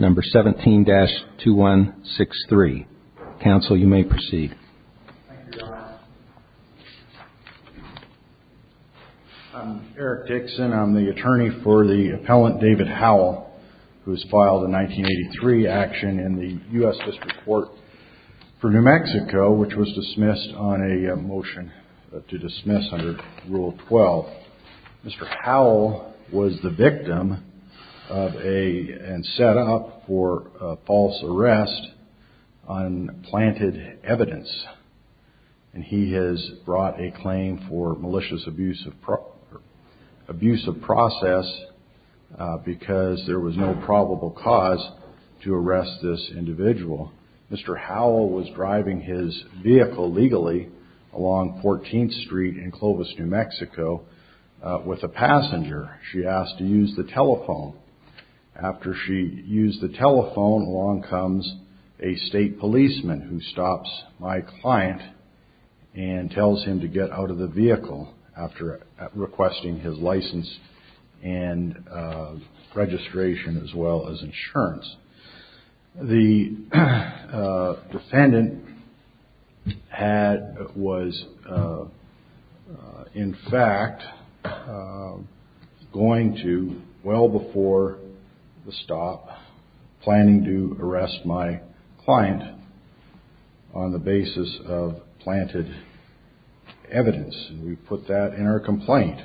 17-2163. Council, you may proceed. I'm Eric Dixon. I'm the attorney for the appellant, and I'm here to discuss the 1983 action in the U.S. District Court for New Mexico, which was dismissed on a motion to dismiss under Rule 12. Mr. Howell was the victim of a, and set up for a false arrest on planted evidence. And he has brought a claim for malicious abuse of process because there was no probable cause to arrest this individual. Mr. Howell was driving his vehicle legally along 14th Street in Clovis, New Mexico, with a passenger. She asked to use the telephone. After she used the telephone, along comes a state policeman who stops my client and tells him to get out of the vehicle after requesting his license and registration, as well as insurance. The defendant was, in fact, going to, well before the stop, planning to arrest my client on the basis of planted evidence. We put that in our complaint.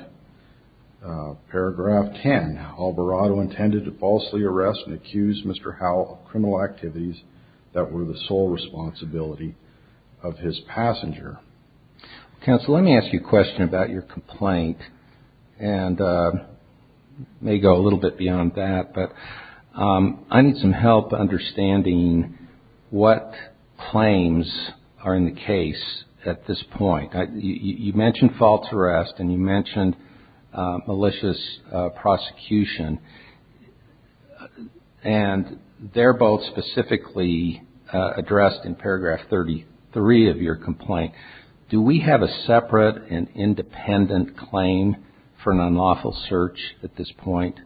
Paragraph 10, Alvarado intended to falsely arrest and accuse Mr. Howell of criminal activities that were the sole responsibility of his passenger. Council, let me ask you a question about your complaint, and may go a little bit beyond that, but I need some help understanding what claims are in the case at this point. You mentioned false arrest and you mentioned malicious prosecution, and they're both specifically addressed in Paragraph 33 of your complaint. Do we have a separate and independent claim for an unlawful search at this point?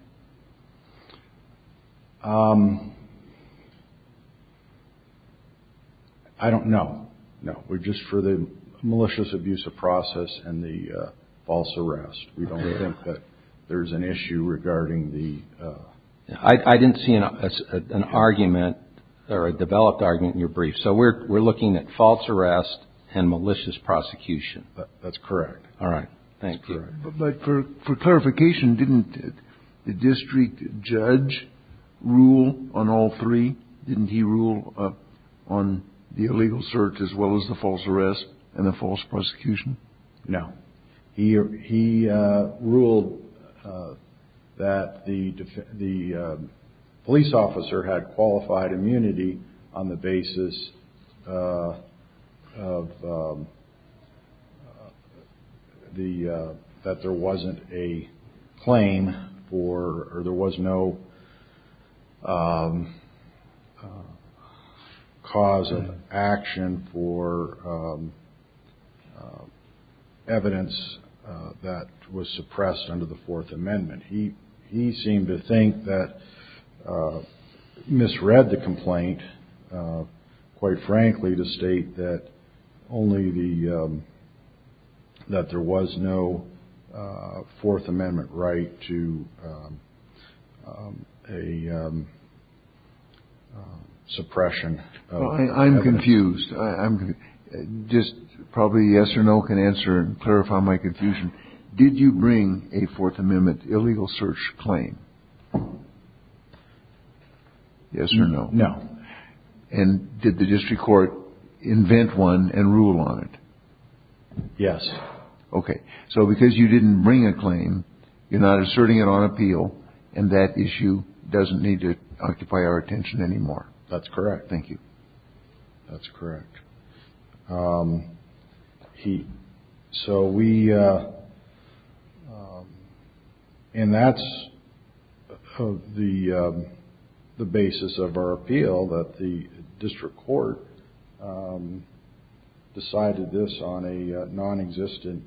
I don't know. No. We're just for the malicious abuse of process and the false arrest. We don't think that there's an issue regarding the... I didn't see an argument or a developed argument in your brief, so we're looking at false arrest and malicious prosecution. That's correct. All right. Thank you. But for clarification, didn't the district judge rule on all three? Didn't he rule on the illegal search as well as the qualified immunity on the basis of the... that there wasn't a claim for... or there was no cause of action for evidence that was suppressed under the Fourth Amendment? He seemed to misread the complaint, quite frankly, to state that only the... that there was no Fourth Amendment right to a suppression of evidence. I'm confused. Just probably a yes or no can answer and clarify my confusion. Did you bring a Fourth Amendment illegal search claim? Yes or no? No. And did the district court invent one and rule on it? Yes. Okay. So because you didn't bring a claim, you're not asserting it on appeal, and that issue doesn't need to occupy our attention anymore. That's correct. Thank you. That's correct. He... so we... and that's the basis of our appeal, that the district court decided this on a non-existent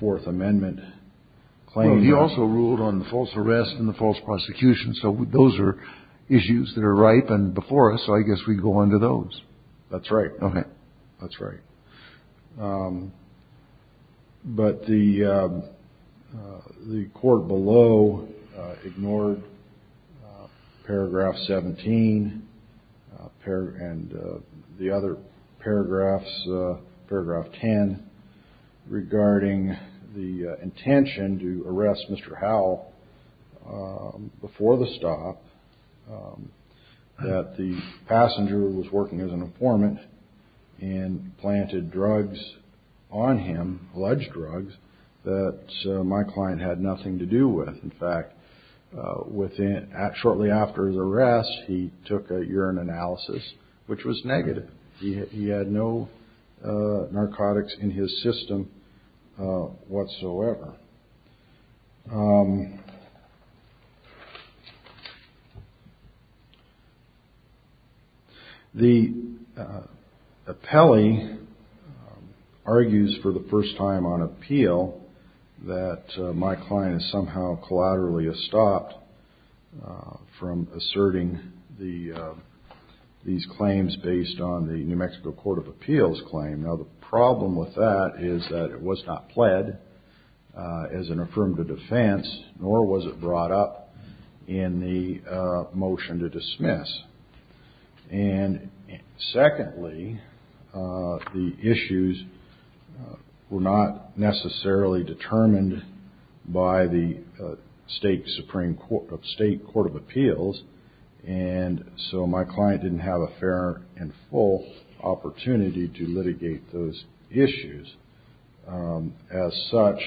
Fourth Amendment claim. He also ruled on the false arrest and the false prosecution, so those are issues that are ripe and before us, so I guess we go on to those. That's right. Okay. That's right. But the court below ignored paragraph 17 and the other paragraphs, paragraph 10, regarding the intention to arrest Mr. Howell before the stop, that the passenger was working as an informant and planted drugs on him, alleged drugs, that my client had nothing to do with. In fact, within... shortly after his arrest, he took a urine analysis, which was negative. He had no narcotics in his system whatsoever. The appellee argues for the first time on appeal that my client somehow collaterally has stopped from asserting these claims based on the New Mexico Court of Appeals claim. Now, the problem with that is that it was not pled as an affirmative defense, nor was it brought up in the motion to dismiss. And secondly, the issues were not necessarily determined by the State Supreme Court... State Court of Appeals, and so my client didn't have a fair and full opportunity to litigate those issues. As such,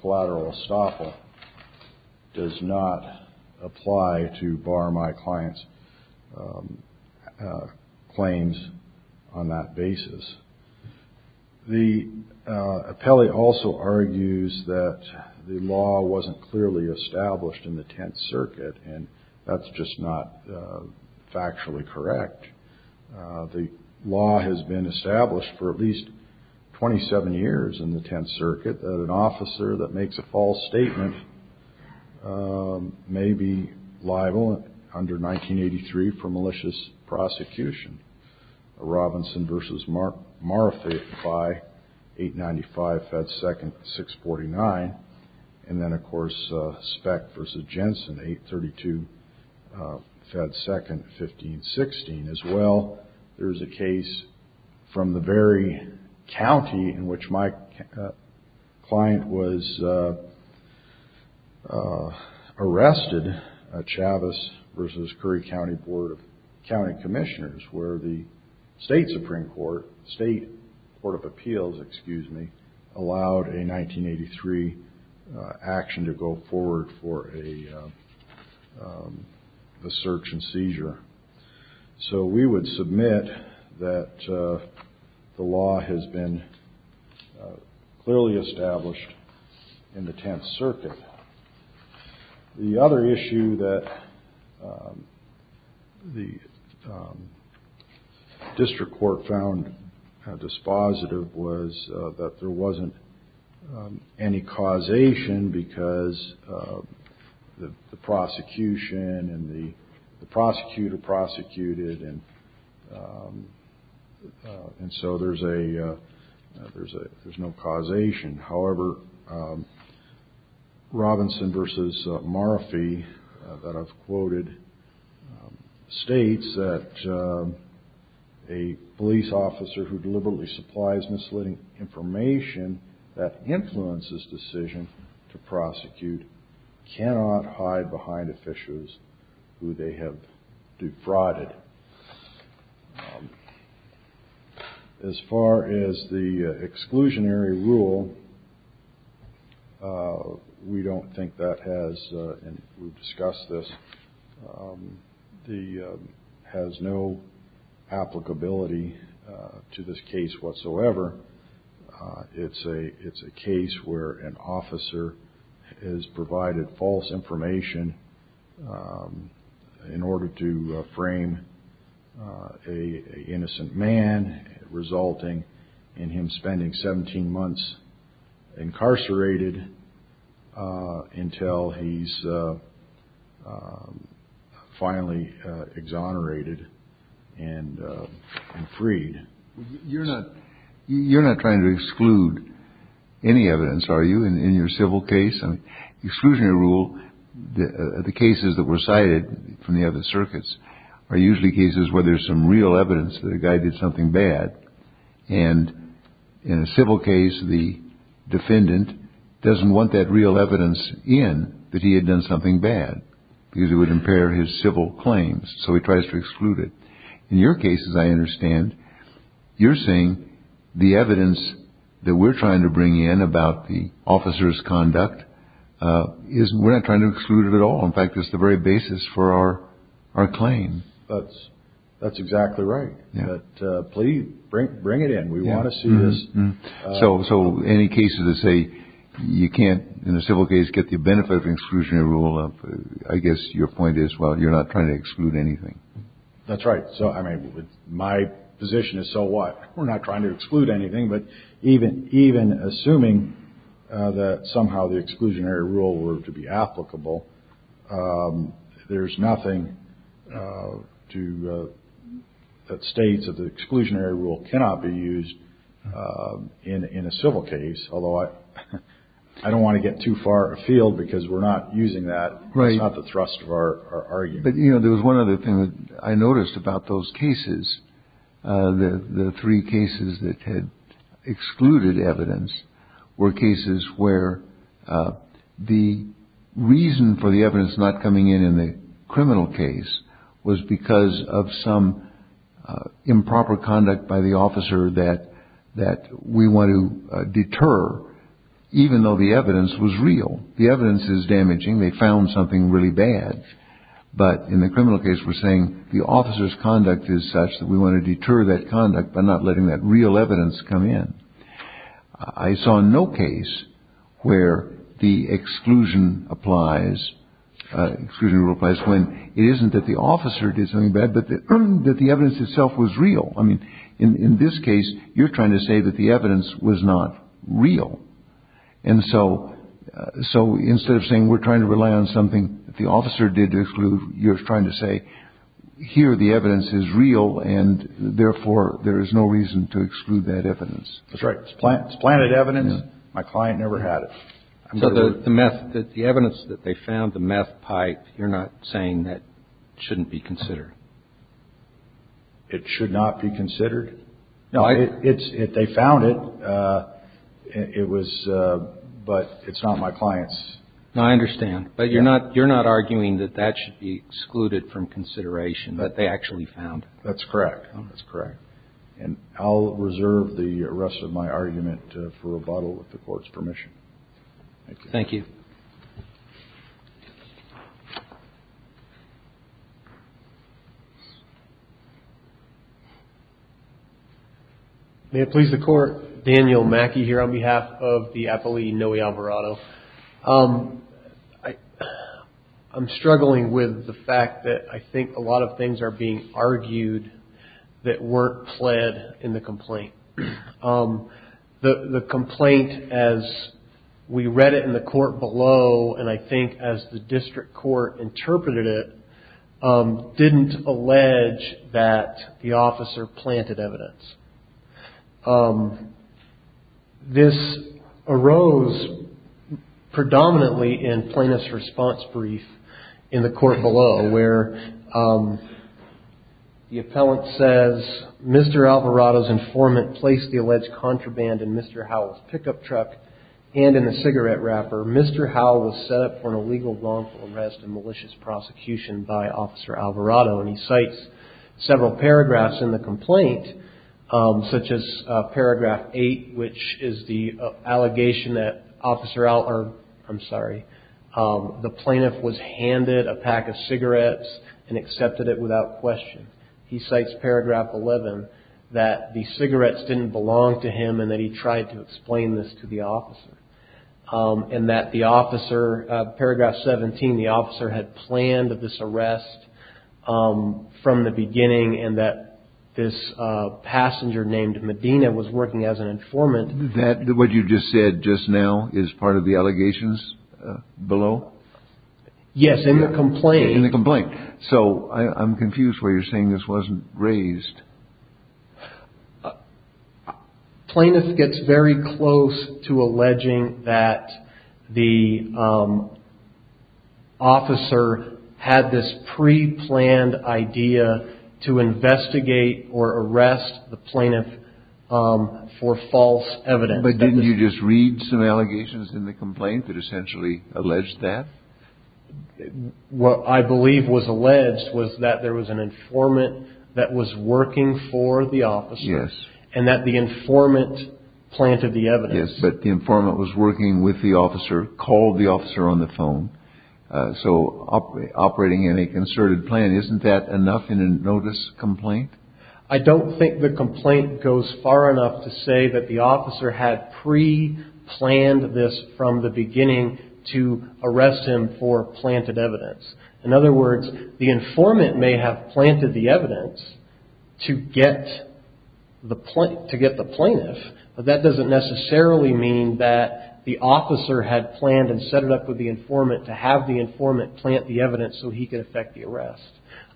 collateral estoppel does not apply to bar my client's claims on that basis. The appellee also argues that the law wasn't clearly established in the Tenth Circuit, and that's just not been established for at least 27 years in the Tenth Circuit, that an officer that makes a false statement may be liable under 1983 for malicious prosecution. Robinson v. Marfaite by 895, Fed 2nd, 649. And then, of course, from the very county in which my client was arrested, Chavez v. Curry County Board of County Commissioners, where the State Supreme Court, State Court of Appeals, excuse me, allowed a 1983 action to go forward for a search and seizure. So we would submit that the law has been clearly established in the Tenth Circuit. The other issue that the district court found dispositive was that there wasn't any causation because the prosecution and the prosecutor prosecuted, and so there's no causation. However, Robinson v. Marfaite, that I've quoted, states that a police officer who deliberately supplies misleading information that influences decision to prosecute cannot hide behind officials who they have defrauded. As far as the exclusionary rule, we don't think that has, and we've an officer has provided false information in order to frame a innocent man, resulting in him spending 17 months incarcerated until he's finally exonerated and freed. You're not trying to exclude any evidence, are you, in your civil case? I mean, exclusionary rule, the cases that were cited from the other circuits are usually cases where there's some real evidence that a guy did something bad. And in a civil case, the defendant doesn't want that real claims. So he tries to exclude it. In your case, as I understand, you're saying the evidence that we're trying to bring in about the officer's conduct is we're not trying to exclude it at all. In fact, it's the very basis for our our claim. That's that's exactly right. Please bring bring it in. We want to see this. So so any cases that say you can't in a civil case get the benefit of exclusionary rule, I guess your point is, well, you're not trying to exclude anything. That's right. So I mean, my position is so what? We're not trying to exclude anything. But even even assuming that somehow the exclusionary rule were to be applicable, there's nothing to that states of the exclusionary rule cannot be used in a civil case. Although I don't want to get too far afield because we're not using that. Right. Not the thrust of our argument. But, you know, there was one other thing that I noticed about those cases, the three cases that had excluded evidence were cases where the reason for the evidence not coming in in the criminal case was because of some improper conduct by the officer that that we want to deter, even though the evidence was real. The evidence is damaging. They found something really bad. But in the criminal case, we're saying the officer's conduct is such that we want to deter that conduct by not letting that real evidence come in. I saw no case where the exclusion applies exclusionary place when it isn't that the officer did something bad, but that the evidence itself was real. I mean, in this case, you're trying to say that the evidence was not real. And so so instead of saying we're trying to rely on something that the officer did to exclude, you're trying to say here the evidence is real. And therefore, there is no reason to exclude that evidence. That's right. It's planted evidence. My client never had it. So the method that the evidence that they found, the meth pipe, you're not saying that shouldn't be considered. It should not be considered. No, it's if they found it. It was. But it's not my clients. I understand. But you're not you're not arguing that that should be excluded from consideration that they actually found. That's correct. That's correct. And I'll reserve the rest of my argument for rebuttal with the court's permission. Thank you. May it please the court, Daniel Mackey here on behalf of the appellee, Noe Alvarado. I'm struggling with the fact that I think a lot of things are being argued that weren't pled in the complaint. The complaint, as we read it in the court below, and I think as the district court interpreted it, didn't allege that the officer planted evidence. This arose predominantly in plaintiff's response brief in the court below where the appellant says, Mr. Alvarado's informant placed the alleged contraband in Mr. Howell's pickup truck and in the cigarette wrapper. Mr. Howell was set up for an illegal, wrongful arrest and malicious prosecution by Officer Alvarado. He cites several paragraphs in the complaint, such as paragraph 8, which is the allegation that Officer Alvarado, I'm sorry, the plaintiff was handed a pack of cigarettes and accepted it without question. He cites paragraph 11 that the cigarettes didn't belong to him and that he tried to explain this to the officer and that the officer, paragraph 17, the officer had planned this arrest from the beginning and that this passenger named Medina was working as an informant. That what you just said just now is part of the allegations below? Yes, in the complaint. In the complaint. So I'm confused where you're saying this wasn't raised. Plaintiff gets very close to alleging that the officer had this pre-planned idea to investigate or arrest the plaintiff for false evidence. But didn't you just read some allegations in the complaint that essentially alleged that? What I believe was alleged was that there was an informant that was working for the officer and that the informant planted the evidence. But the informant was working with the officer, called the officer on the phone. So operating in a concerted plan, isn't that enough in a notice complaint? I don't think the complaint goes far enough to say that the officer had pre-planned this from the beginning to arrest him for planted evidence. In other words, the informant may have planted the evidence to get the plaintiff, but that doesn't necessarily mean that the officer had planned and set it up with the informant to have the informant plant the evidence so he could affect the arrest.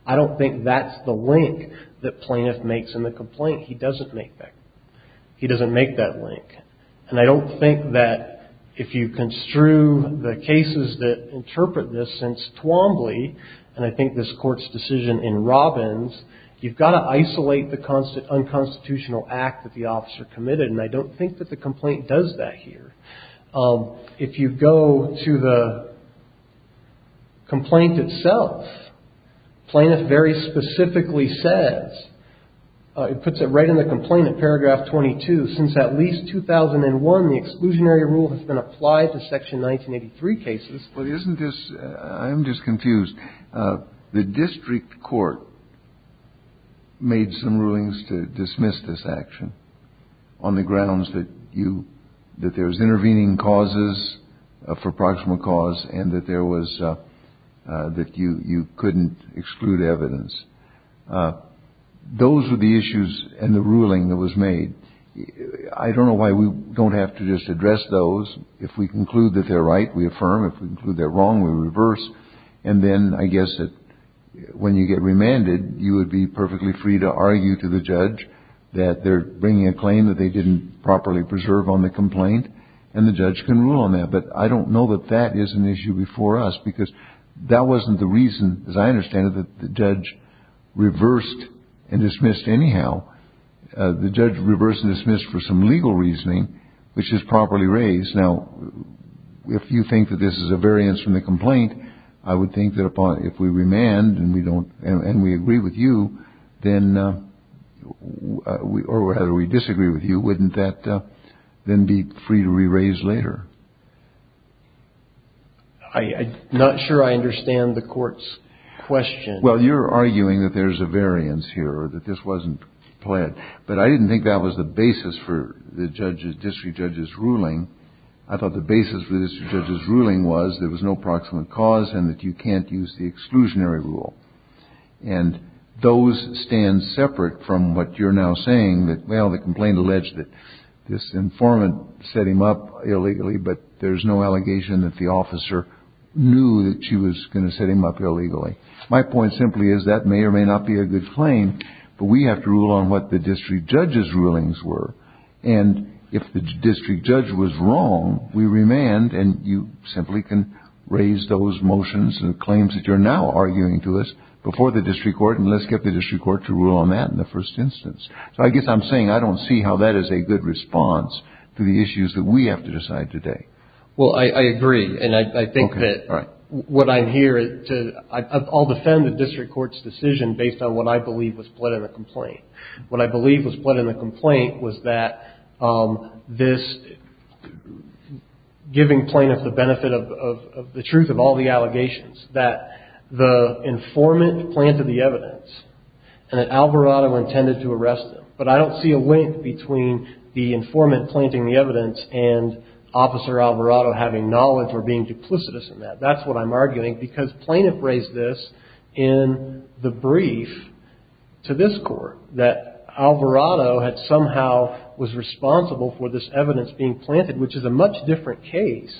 I don't think that's the link that plaintiff makes in the complaint. He doesn't make that. He doesn't make that link. And I don't think that if you construe the cases that interpret this since Twombly, and I think this court's decision in Robbins, you've got to isolate the unconstitutional act that the officer committed. And I don't think that the complaint does that here. If you go to the complaint itself, plaintiff very specifically says it puts it right in the complaint in paragraph 22. Since at least 2001, the exclusionary rule has been applied to Section 1983 cases. But isn't this I'm just confused. The district court made some rulings to dismiss this action on the grounds that you that there's intervening causes for proximal cause and that there was that you you couldn't exclude evidence. Those are the issues and the ruling that was made. I don't know why we don't have to just address those. If we conclude that they're right, we affirm. If we conclude they're wrong, we reverse. And then I guess that when you get remanded, you would be perfectly free to argue to the judge that they're bringing a claim that they didn't properly preserve on the complaint. And the judge can rule on that. But I don't know that that is an issue before us because that wasn't the reason, as I understand it, that the judge reversed and dismissed anyhow. The judge reversed and dismissed for some legal reasoning, which is properly raised. Now, if you think that this is a variance from the complaint, I would think that if we remand and we don't and we agree with you, then we or rather we disagree with you. Wouldn't that then be free to re-raise later? I'm not sure I understand the court's question. Well, you're arguing that there's a variance here or that this wasn't planned. But I didn't think that was the basis for the judge's district judge's ruling. I thought the basis for this judge's ruling was there was no proximate cause and that you can't use the exclusionary rule. And those stand separate from what you're now saying that, well, the complaint alleged that this informant set him up illegally. But there's no allegation that the officer knew that she was going to set him up illegally. My point simply is that may or may not be a good claim, but we have to rule on what the district judge's rulings were. And if the district judge was wrong, we remand and you simply can raise those motions and claims that you're now arguing to us before the district court. And let's get the district court to rule on that in the first instance. So I guess I'm saying I don't see how that is a good response to the issues that we have to decide today. Well, I agree. And I think that what I'm here to I'll defend the district court's decision based on what I believe was put in the complaint. What I believe was put in the complaint was that this giving plaintiffs the benefit of the truth of all the allegations that the informant planted the evidence and that Alvarado intended to arrest him. But I don't see a link between the informant planting the evidence and Officer Alvarado having knowledge or being duplicitous in that. That's what I'm arguing, because plaintiff raised this in the brief to this court that Alvarado had somehow was responsible for this evidence being planted, which is a much different case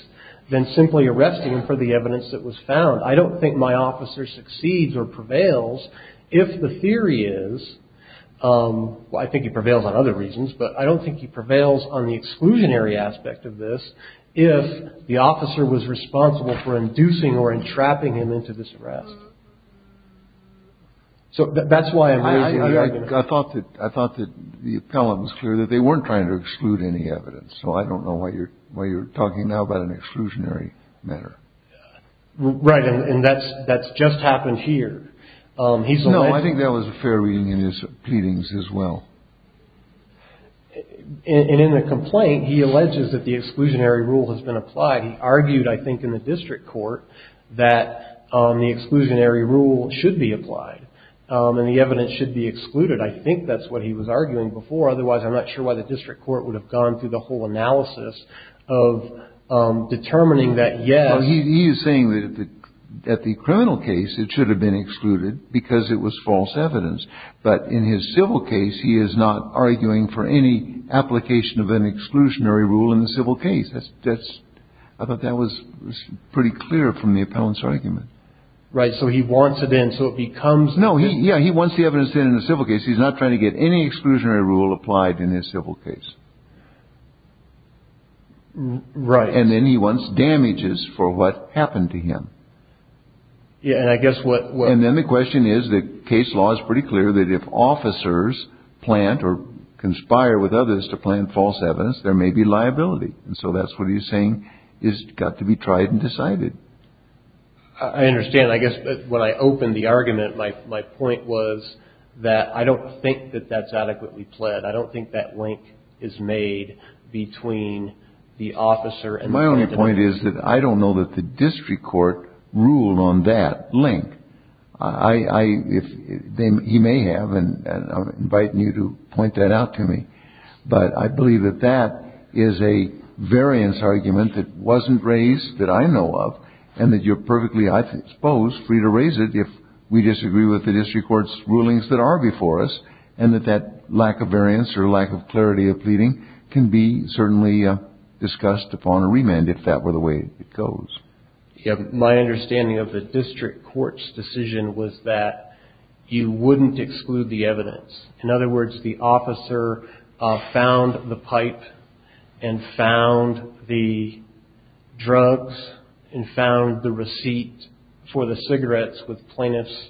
than simply arresting him for the evidence that was found. I don't think my officer succeeds or prevails if the theory is I think it prevails on other reasons. But I don't think he prevails on the exclusionary aspect of this. If the officer was responsible for inducing or entrapping him into this arrest. So that's why I thought that I thought that the appellant was clear that they weren't trying to exclude any evidence. So I don't know why you're why you're talking now about an exclusionary matter. Right. And that's that's just happened here. He's no I think there was a fair reading in his pleadings as well. And in the complaint, he alleges that the exclusionary rule has been applied. He argued, I think, in the district court that the exclusionary rule should be applied and the evidence should be excluded. I think that's what he was arguing before. Otherwise, I'm not sure why the district court would have gone through the whole analysis of determining that. Yeah. He is saying that at the criminal case, it should have been excluded because it was false evidence. But in his civil case, he is not arguing for any application of an exclusionary rule in the civil case. That's that's I thought that was pretty clear from the appellant's argument. Right. So he wants it in. So it becomes no. Yeah. He wants the evidence in the civil case. He's not trying to get any exclusionary rule applied in his civil case. Right. And then he wants damages for what happened to him. Yeah. And I guess what and then the question is, the case law is pretty clear that if officers plant or conspire with others to plan false evidence, there may be liability. And so that's what he's saying is got to be tried and decided. I understand. I guess when I opened the argument, my my point was that I don't think that that's adequately pled. I don't think that link is made between the officer. And my only point is that I don't know that the district court ruled on that link. I if he may have and I'm inviting you to point that out to me. But I believe that that is a variance argument that wasn't raised that I know of and that you're perfectly exposed free to raise it if we disagree with the district court's rulings that are before us. And that that lack of variance or lack of clarity of pleading can be certainly discussed upon a remand if that were the way it goes. My understanding of the district court's decision was that you wouldn't exclude the evidence. In other words, the officer found the pipe and found the drugs and found the receipt for the cigarettes with plaintiff's.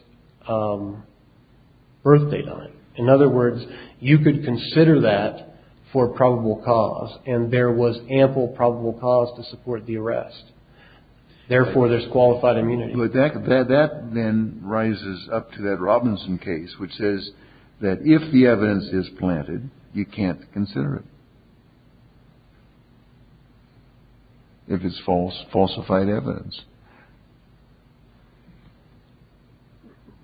Birthday night. In other words, you could consider that for probable cause and there was ample probable cause to support the arrest. Therefore, there's qualified immunity. But that that then rises up to that Robinson case, which says that if the evidence is planted, you can't consider it. If it's false falsified evidence.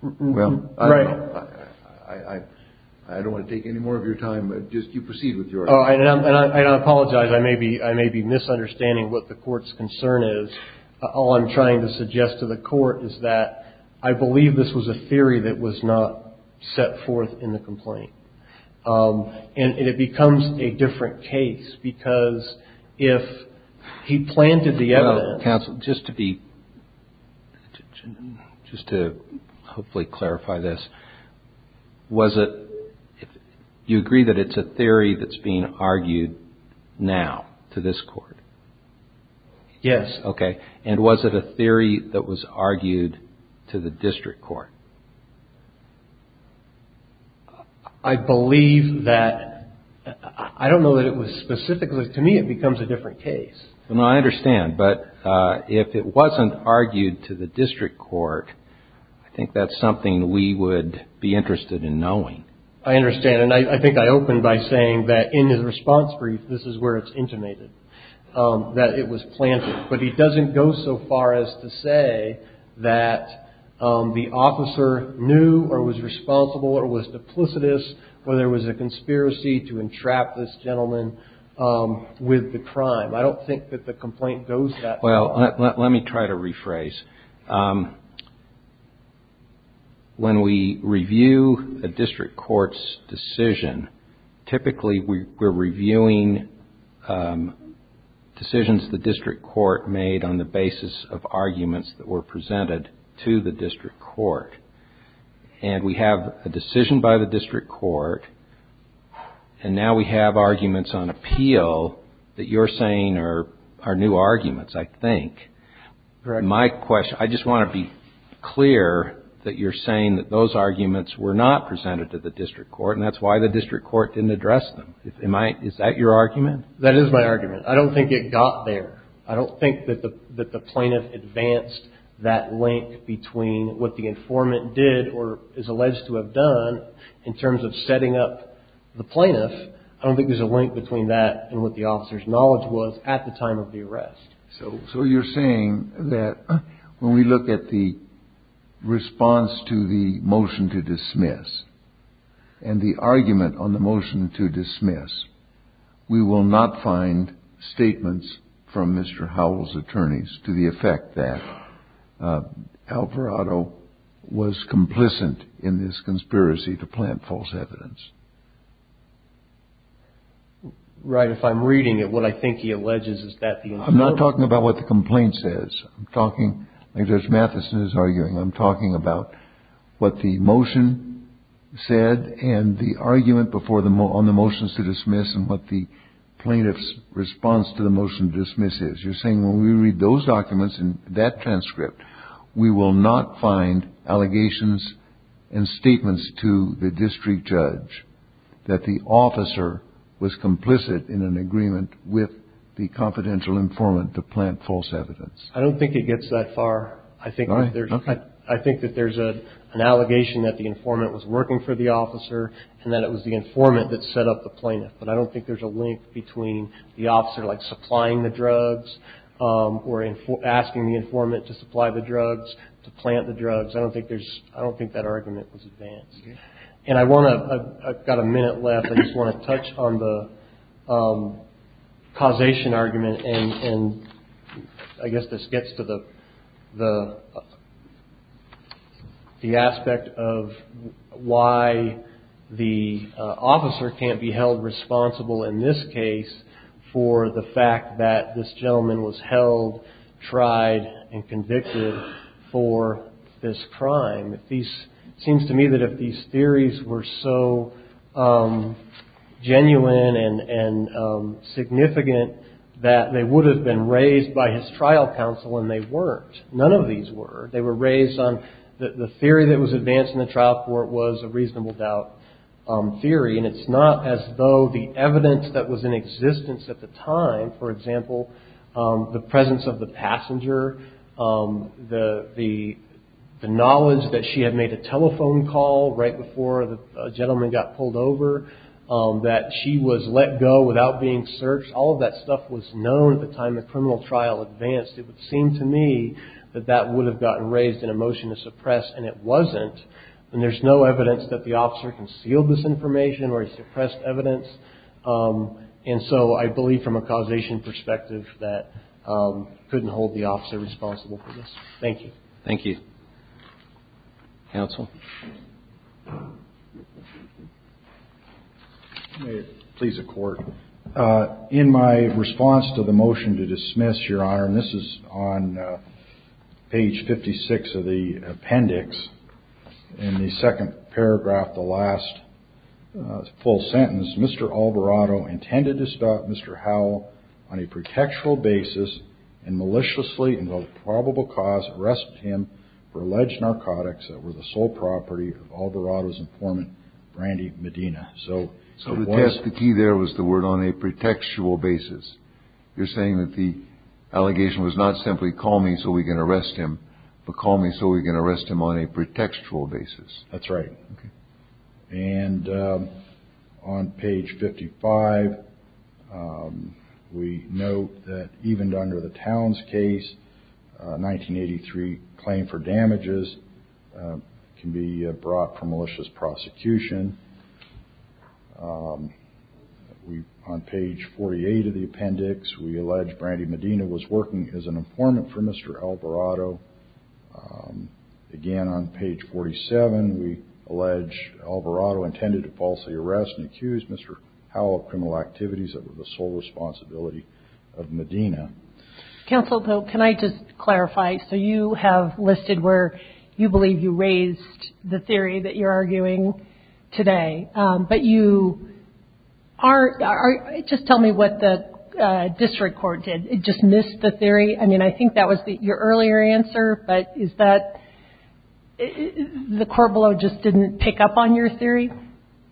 Well, I don't want to take any more of your time. But just you proceed with your. Oh, I know. And I apologize. I may be I may be misunderstanding what the court's concern is. All I'm trying to suggest to the court is that I believe this was a theory that was not set forth in the complaint. And it becomes a different case because if he planted the evidence. Just to be just to hopefully clarify this. Was it you agree that it's a theory that's being argued now to this court? Yes. OK. And was it a theory that was argued to the district court? I believe that I don't know that it was specifically to me, it becomes a different case. And I understand. But if it wasn't argued to the district court, I think that's something we would be interested in knowing. I understand. And I think I opened by saying that in his response brief, this is where it's intimated that it was planted. But he doesn't go so far as to say that the officer knew or was responsible or was duplicitous. Well, there was a conspiracy to entrap this gentleman with the crime. I don't think that the complaint goes that far. Well, let me try to rephrase. When we review a district court's decision, typically we're reviewing decisions the district court made on the basis of arguments that were presented to the district court. And we have a decision by the district court. And now we have arguments on appeal that you're saying are new arguments, I think. My question, I just want to be clear that you're saying that those arguments were not presented to the district court and that's why the district court didn't address them. Is that your argument? That is my argument. I don't think it got there. I don't think that the plaintiff advanced that link between what the informant did or is alleged to have done in terms of setting up the plaintiff. I don't think there's a link between that and what the officer's knowledge was at the time of the arrest. So you're saying that when we look at the response to the motion to dismiss and the argument on the motion to dismiss, we will not find statements from Mr. Howell's attorneys to the effect that Alvarado was complicit in this conspiracy to plant false evidence. Right. If I'm reading it, what I think he alleges is that I'm not talking about what the complaint says. I'm talking like Judge Mathison is arguing. I'm talking about what the motion said and the argument before them on the motions to dismiss and what the plaintiff's response to the motion dismisses. You're saying when we read those documents in that transcript, we will not find allegations and statements to the district judge that the officer was complicit in an agreement with the confidential informant to plant false evidence. I don't think it gets that far. I think I think that there's an allegation that the informant was working for the officer and that it was the informant that set up the plaintiff. But I don't think there's a link between the officer like supplying the drugs or asking the informant to supply the drugs, to plant the drugs. I don't think there's I don't think that argument was advanced. And I want to I've got a minute left. I just want to touch on the causation argument. And I guess this gets to the the the aspect of why the officer can't be held responsible in this case for the fact that this gentleman was held, tried and convicted for this crime. It seems to me that if these theories were so genuine and significant that they would have been raised by his trial counsel and they weren't. None of these were. They were raised on the theory that was advanced in the trial court was a reasonable doubt theory. And it's not as though the evidence that was in existence at the time, for example, the presence of the passenger, the knowledge that she had made a telephone call right before the gentleman got pulled over, that she was let go without being searched. All of that stuff was known at the time the criminal trial advanced. It would seem to me that that would have gotten raised in a motion to suppress. And it wasn't. And there's no evidence that the officer concealed this information or suppressed evidence. And so I believe from a causation perspective that couldn't hold the officer responsible for this. Thank you. Thank you. Counsel. Please, a court in my response to the motion to dismiss your honor. And this is on page 56 of the appendix in the second paragraph. The last full sentence, Mr. Alvarado intended to stop Mr. Howe on a pretextual basis and maliciously involved probable cause arrest him for alleged narcotics that were the sole property of Alvarado's informant, Randy Medina. So so what is the key? There was the word on a pretextual basis. You're saying that the allegation was not simply call me so we can arrest him, but call me so we can arrest him on a pretextual basis. That's right. And on page 55, we know that even under the Towns case, 1983 claim for damages can be brought for malicious prosecution. We on page 48 of the appendix, we allege Brandy Medina was working as an informant for Mr. Alvarado again on page 47. We allege Alvarado intended to falsely arrest and accuse Mr. Howe of criminal activities that were the sole responsibility of Medina. Counsel, can I just clarify? So you have listed where you believe you raised the theory that you're arguing today, but you are just tell me what the district court did. It just missed the theory. I mean, I think that was your earlier answer. But is that the court below just didn't pick up on your theory?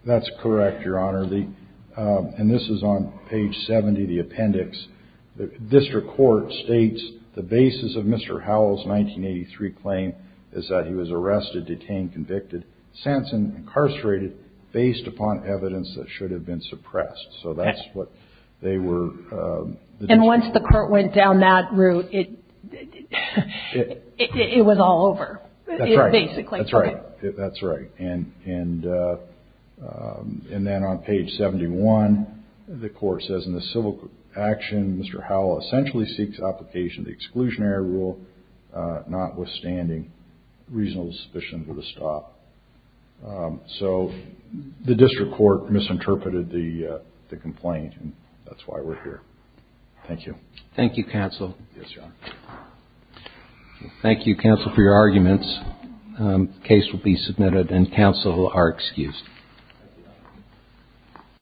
That's correct, Your Honor. And this is on page 70 of the appendix. The district court states the basis of Mr. Howell's 1983 claim is that he was arrested, detained, convicted, sentenced, incarcerated based upon evidence that should have been suppressed. So that's what they were. And once the court went down that route, it was all over basically. That's right. That's right. And then on page 71, the court says in the civil action, Mr. Howell essentially seeks application of the exclusionary rule, notwithstanding reasonable suspicion of a stop. So the district court misinterpreted the complaint and that's why we're here. Thank you. Thank you, counsel. Yes, Your Honor. Thank you, counsel, for your arguments. The case will be submitted and counsel are excused.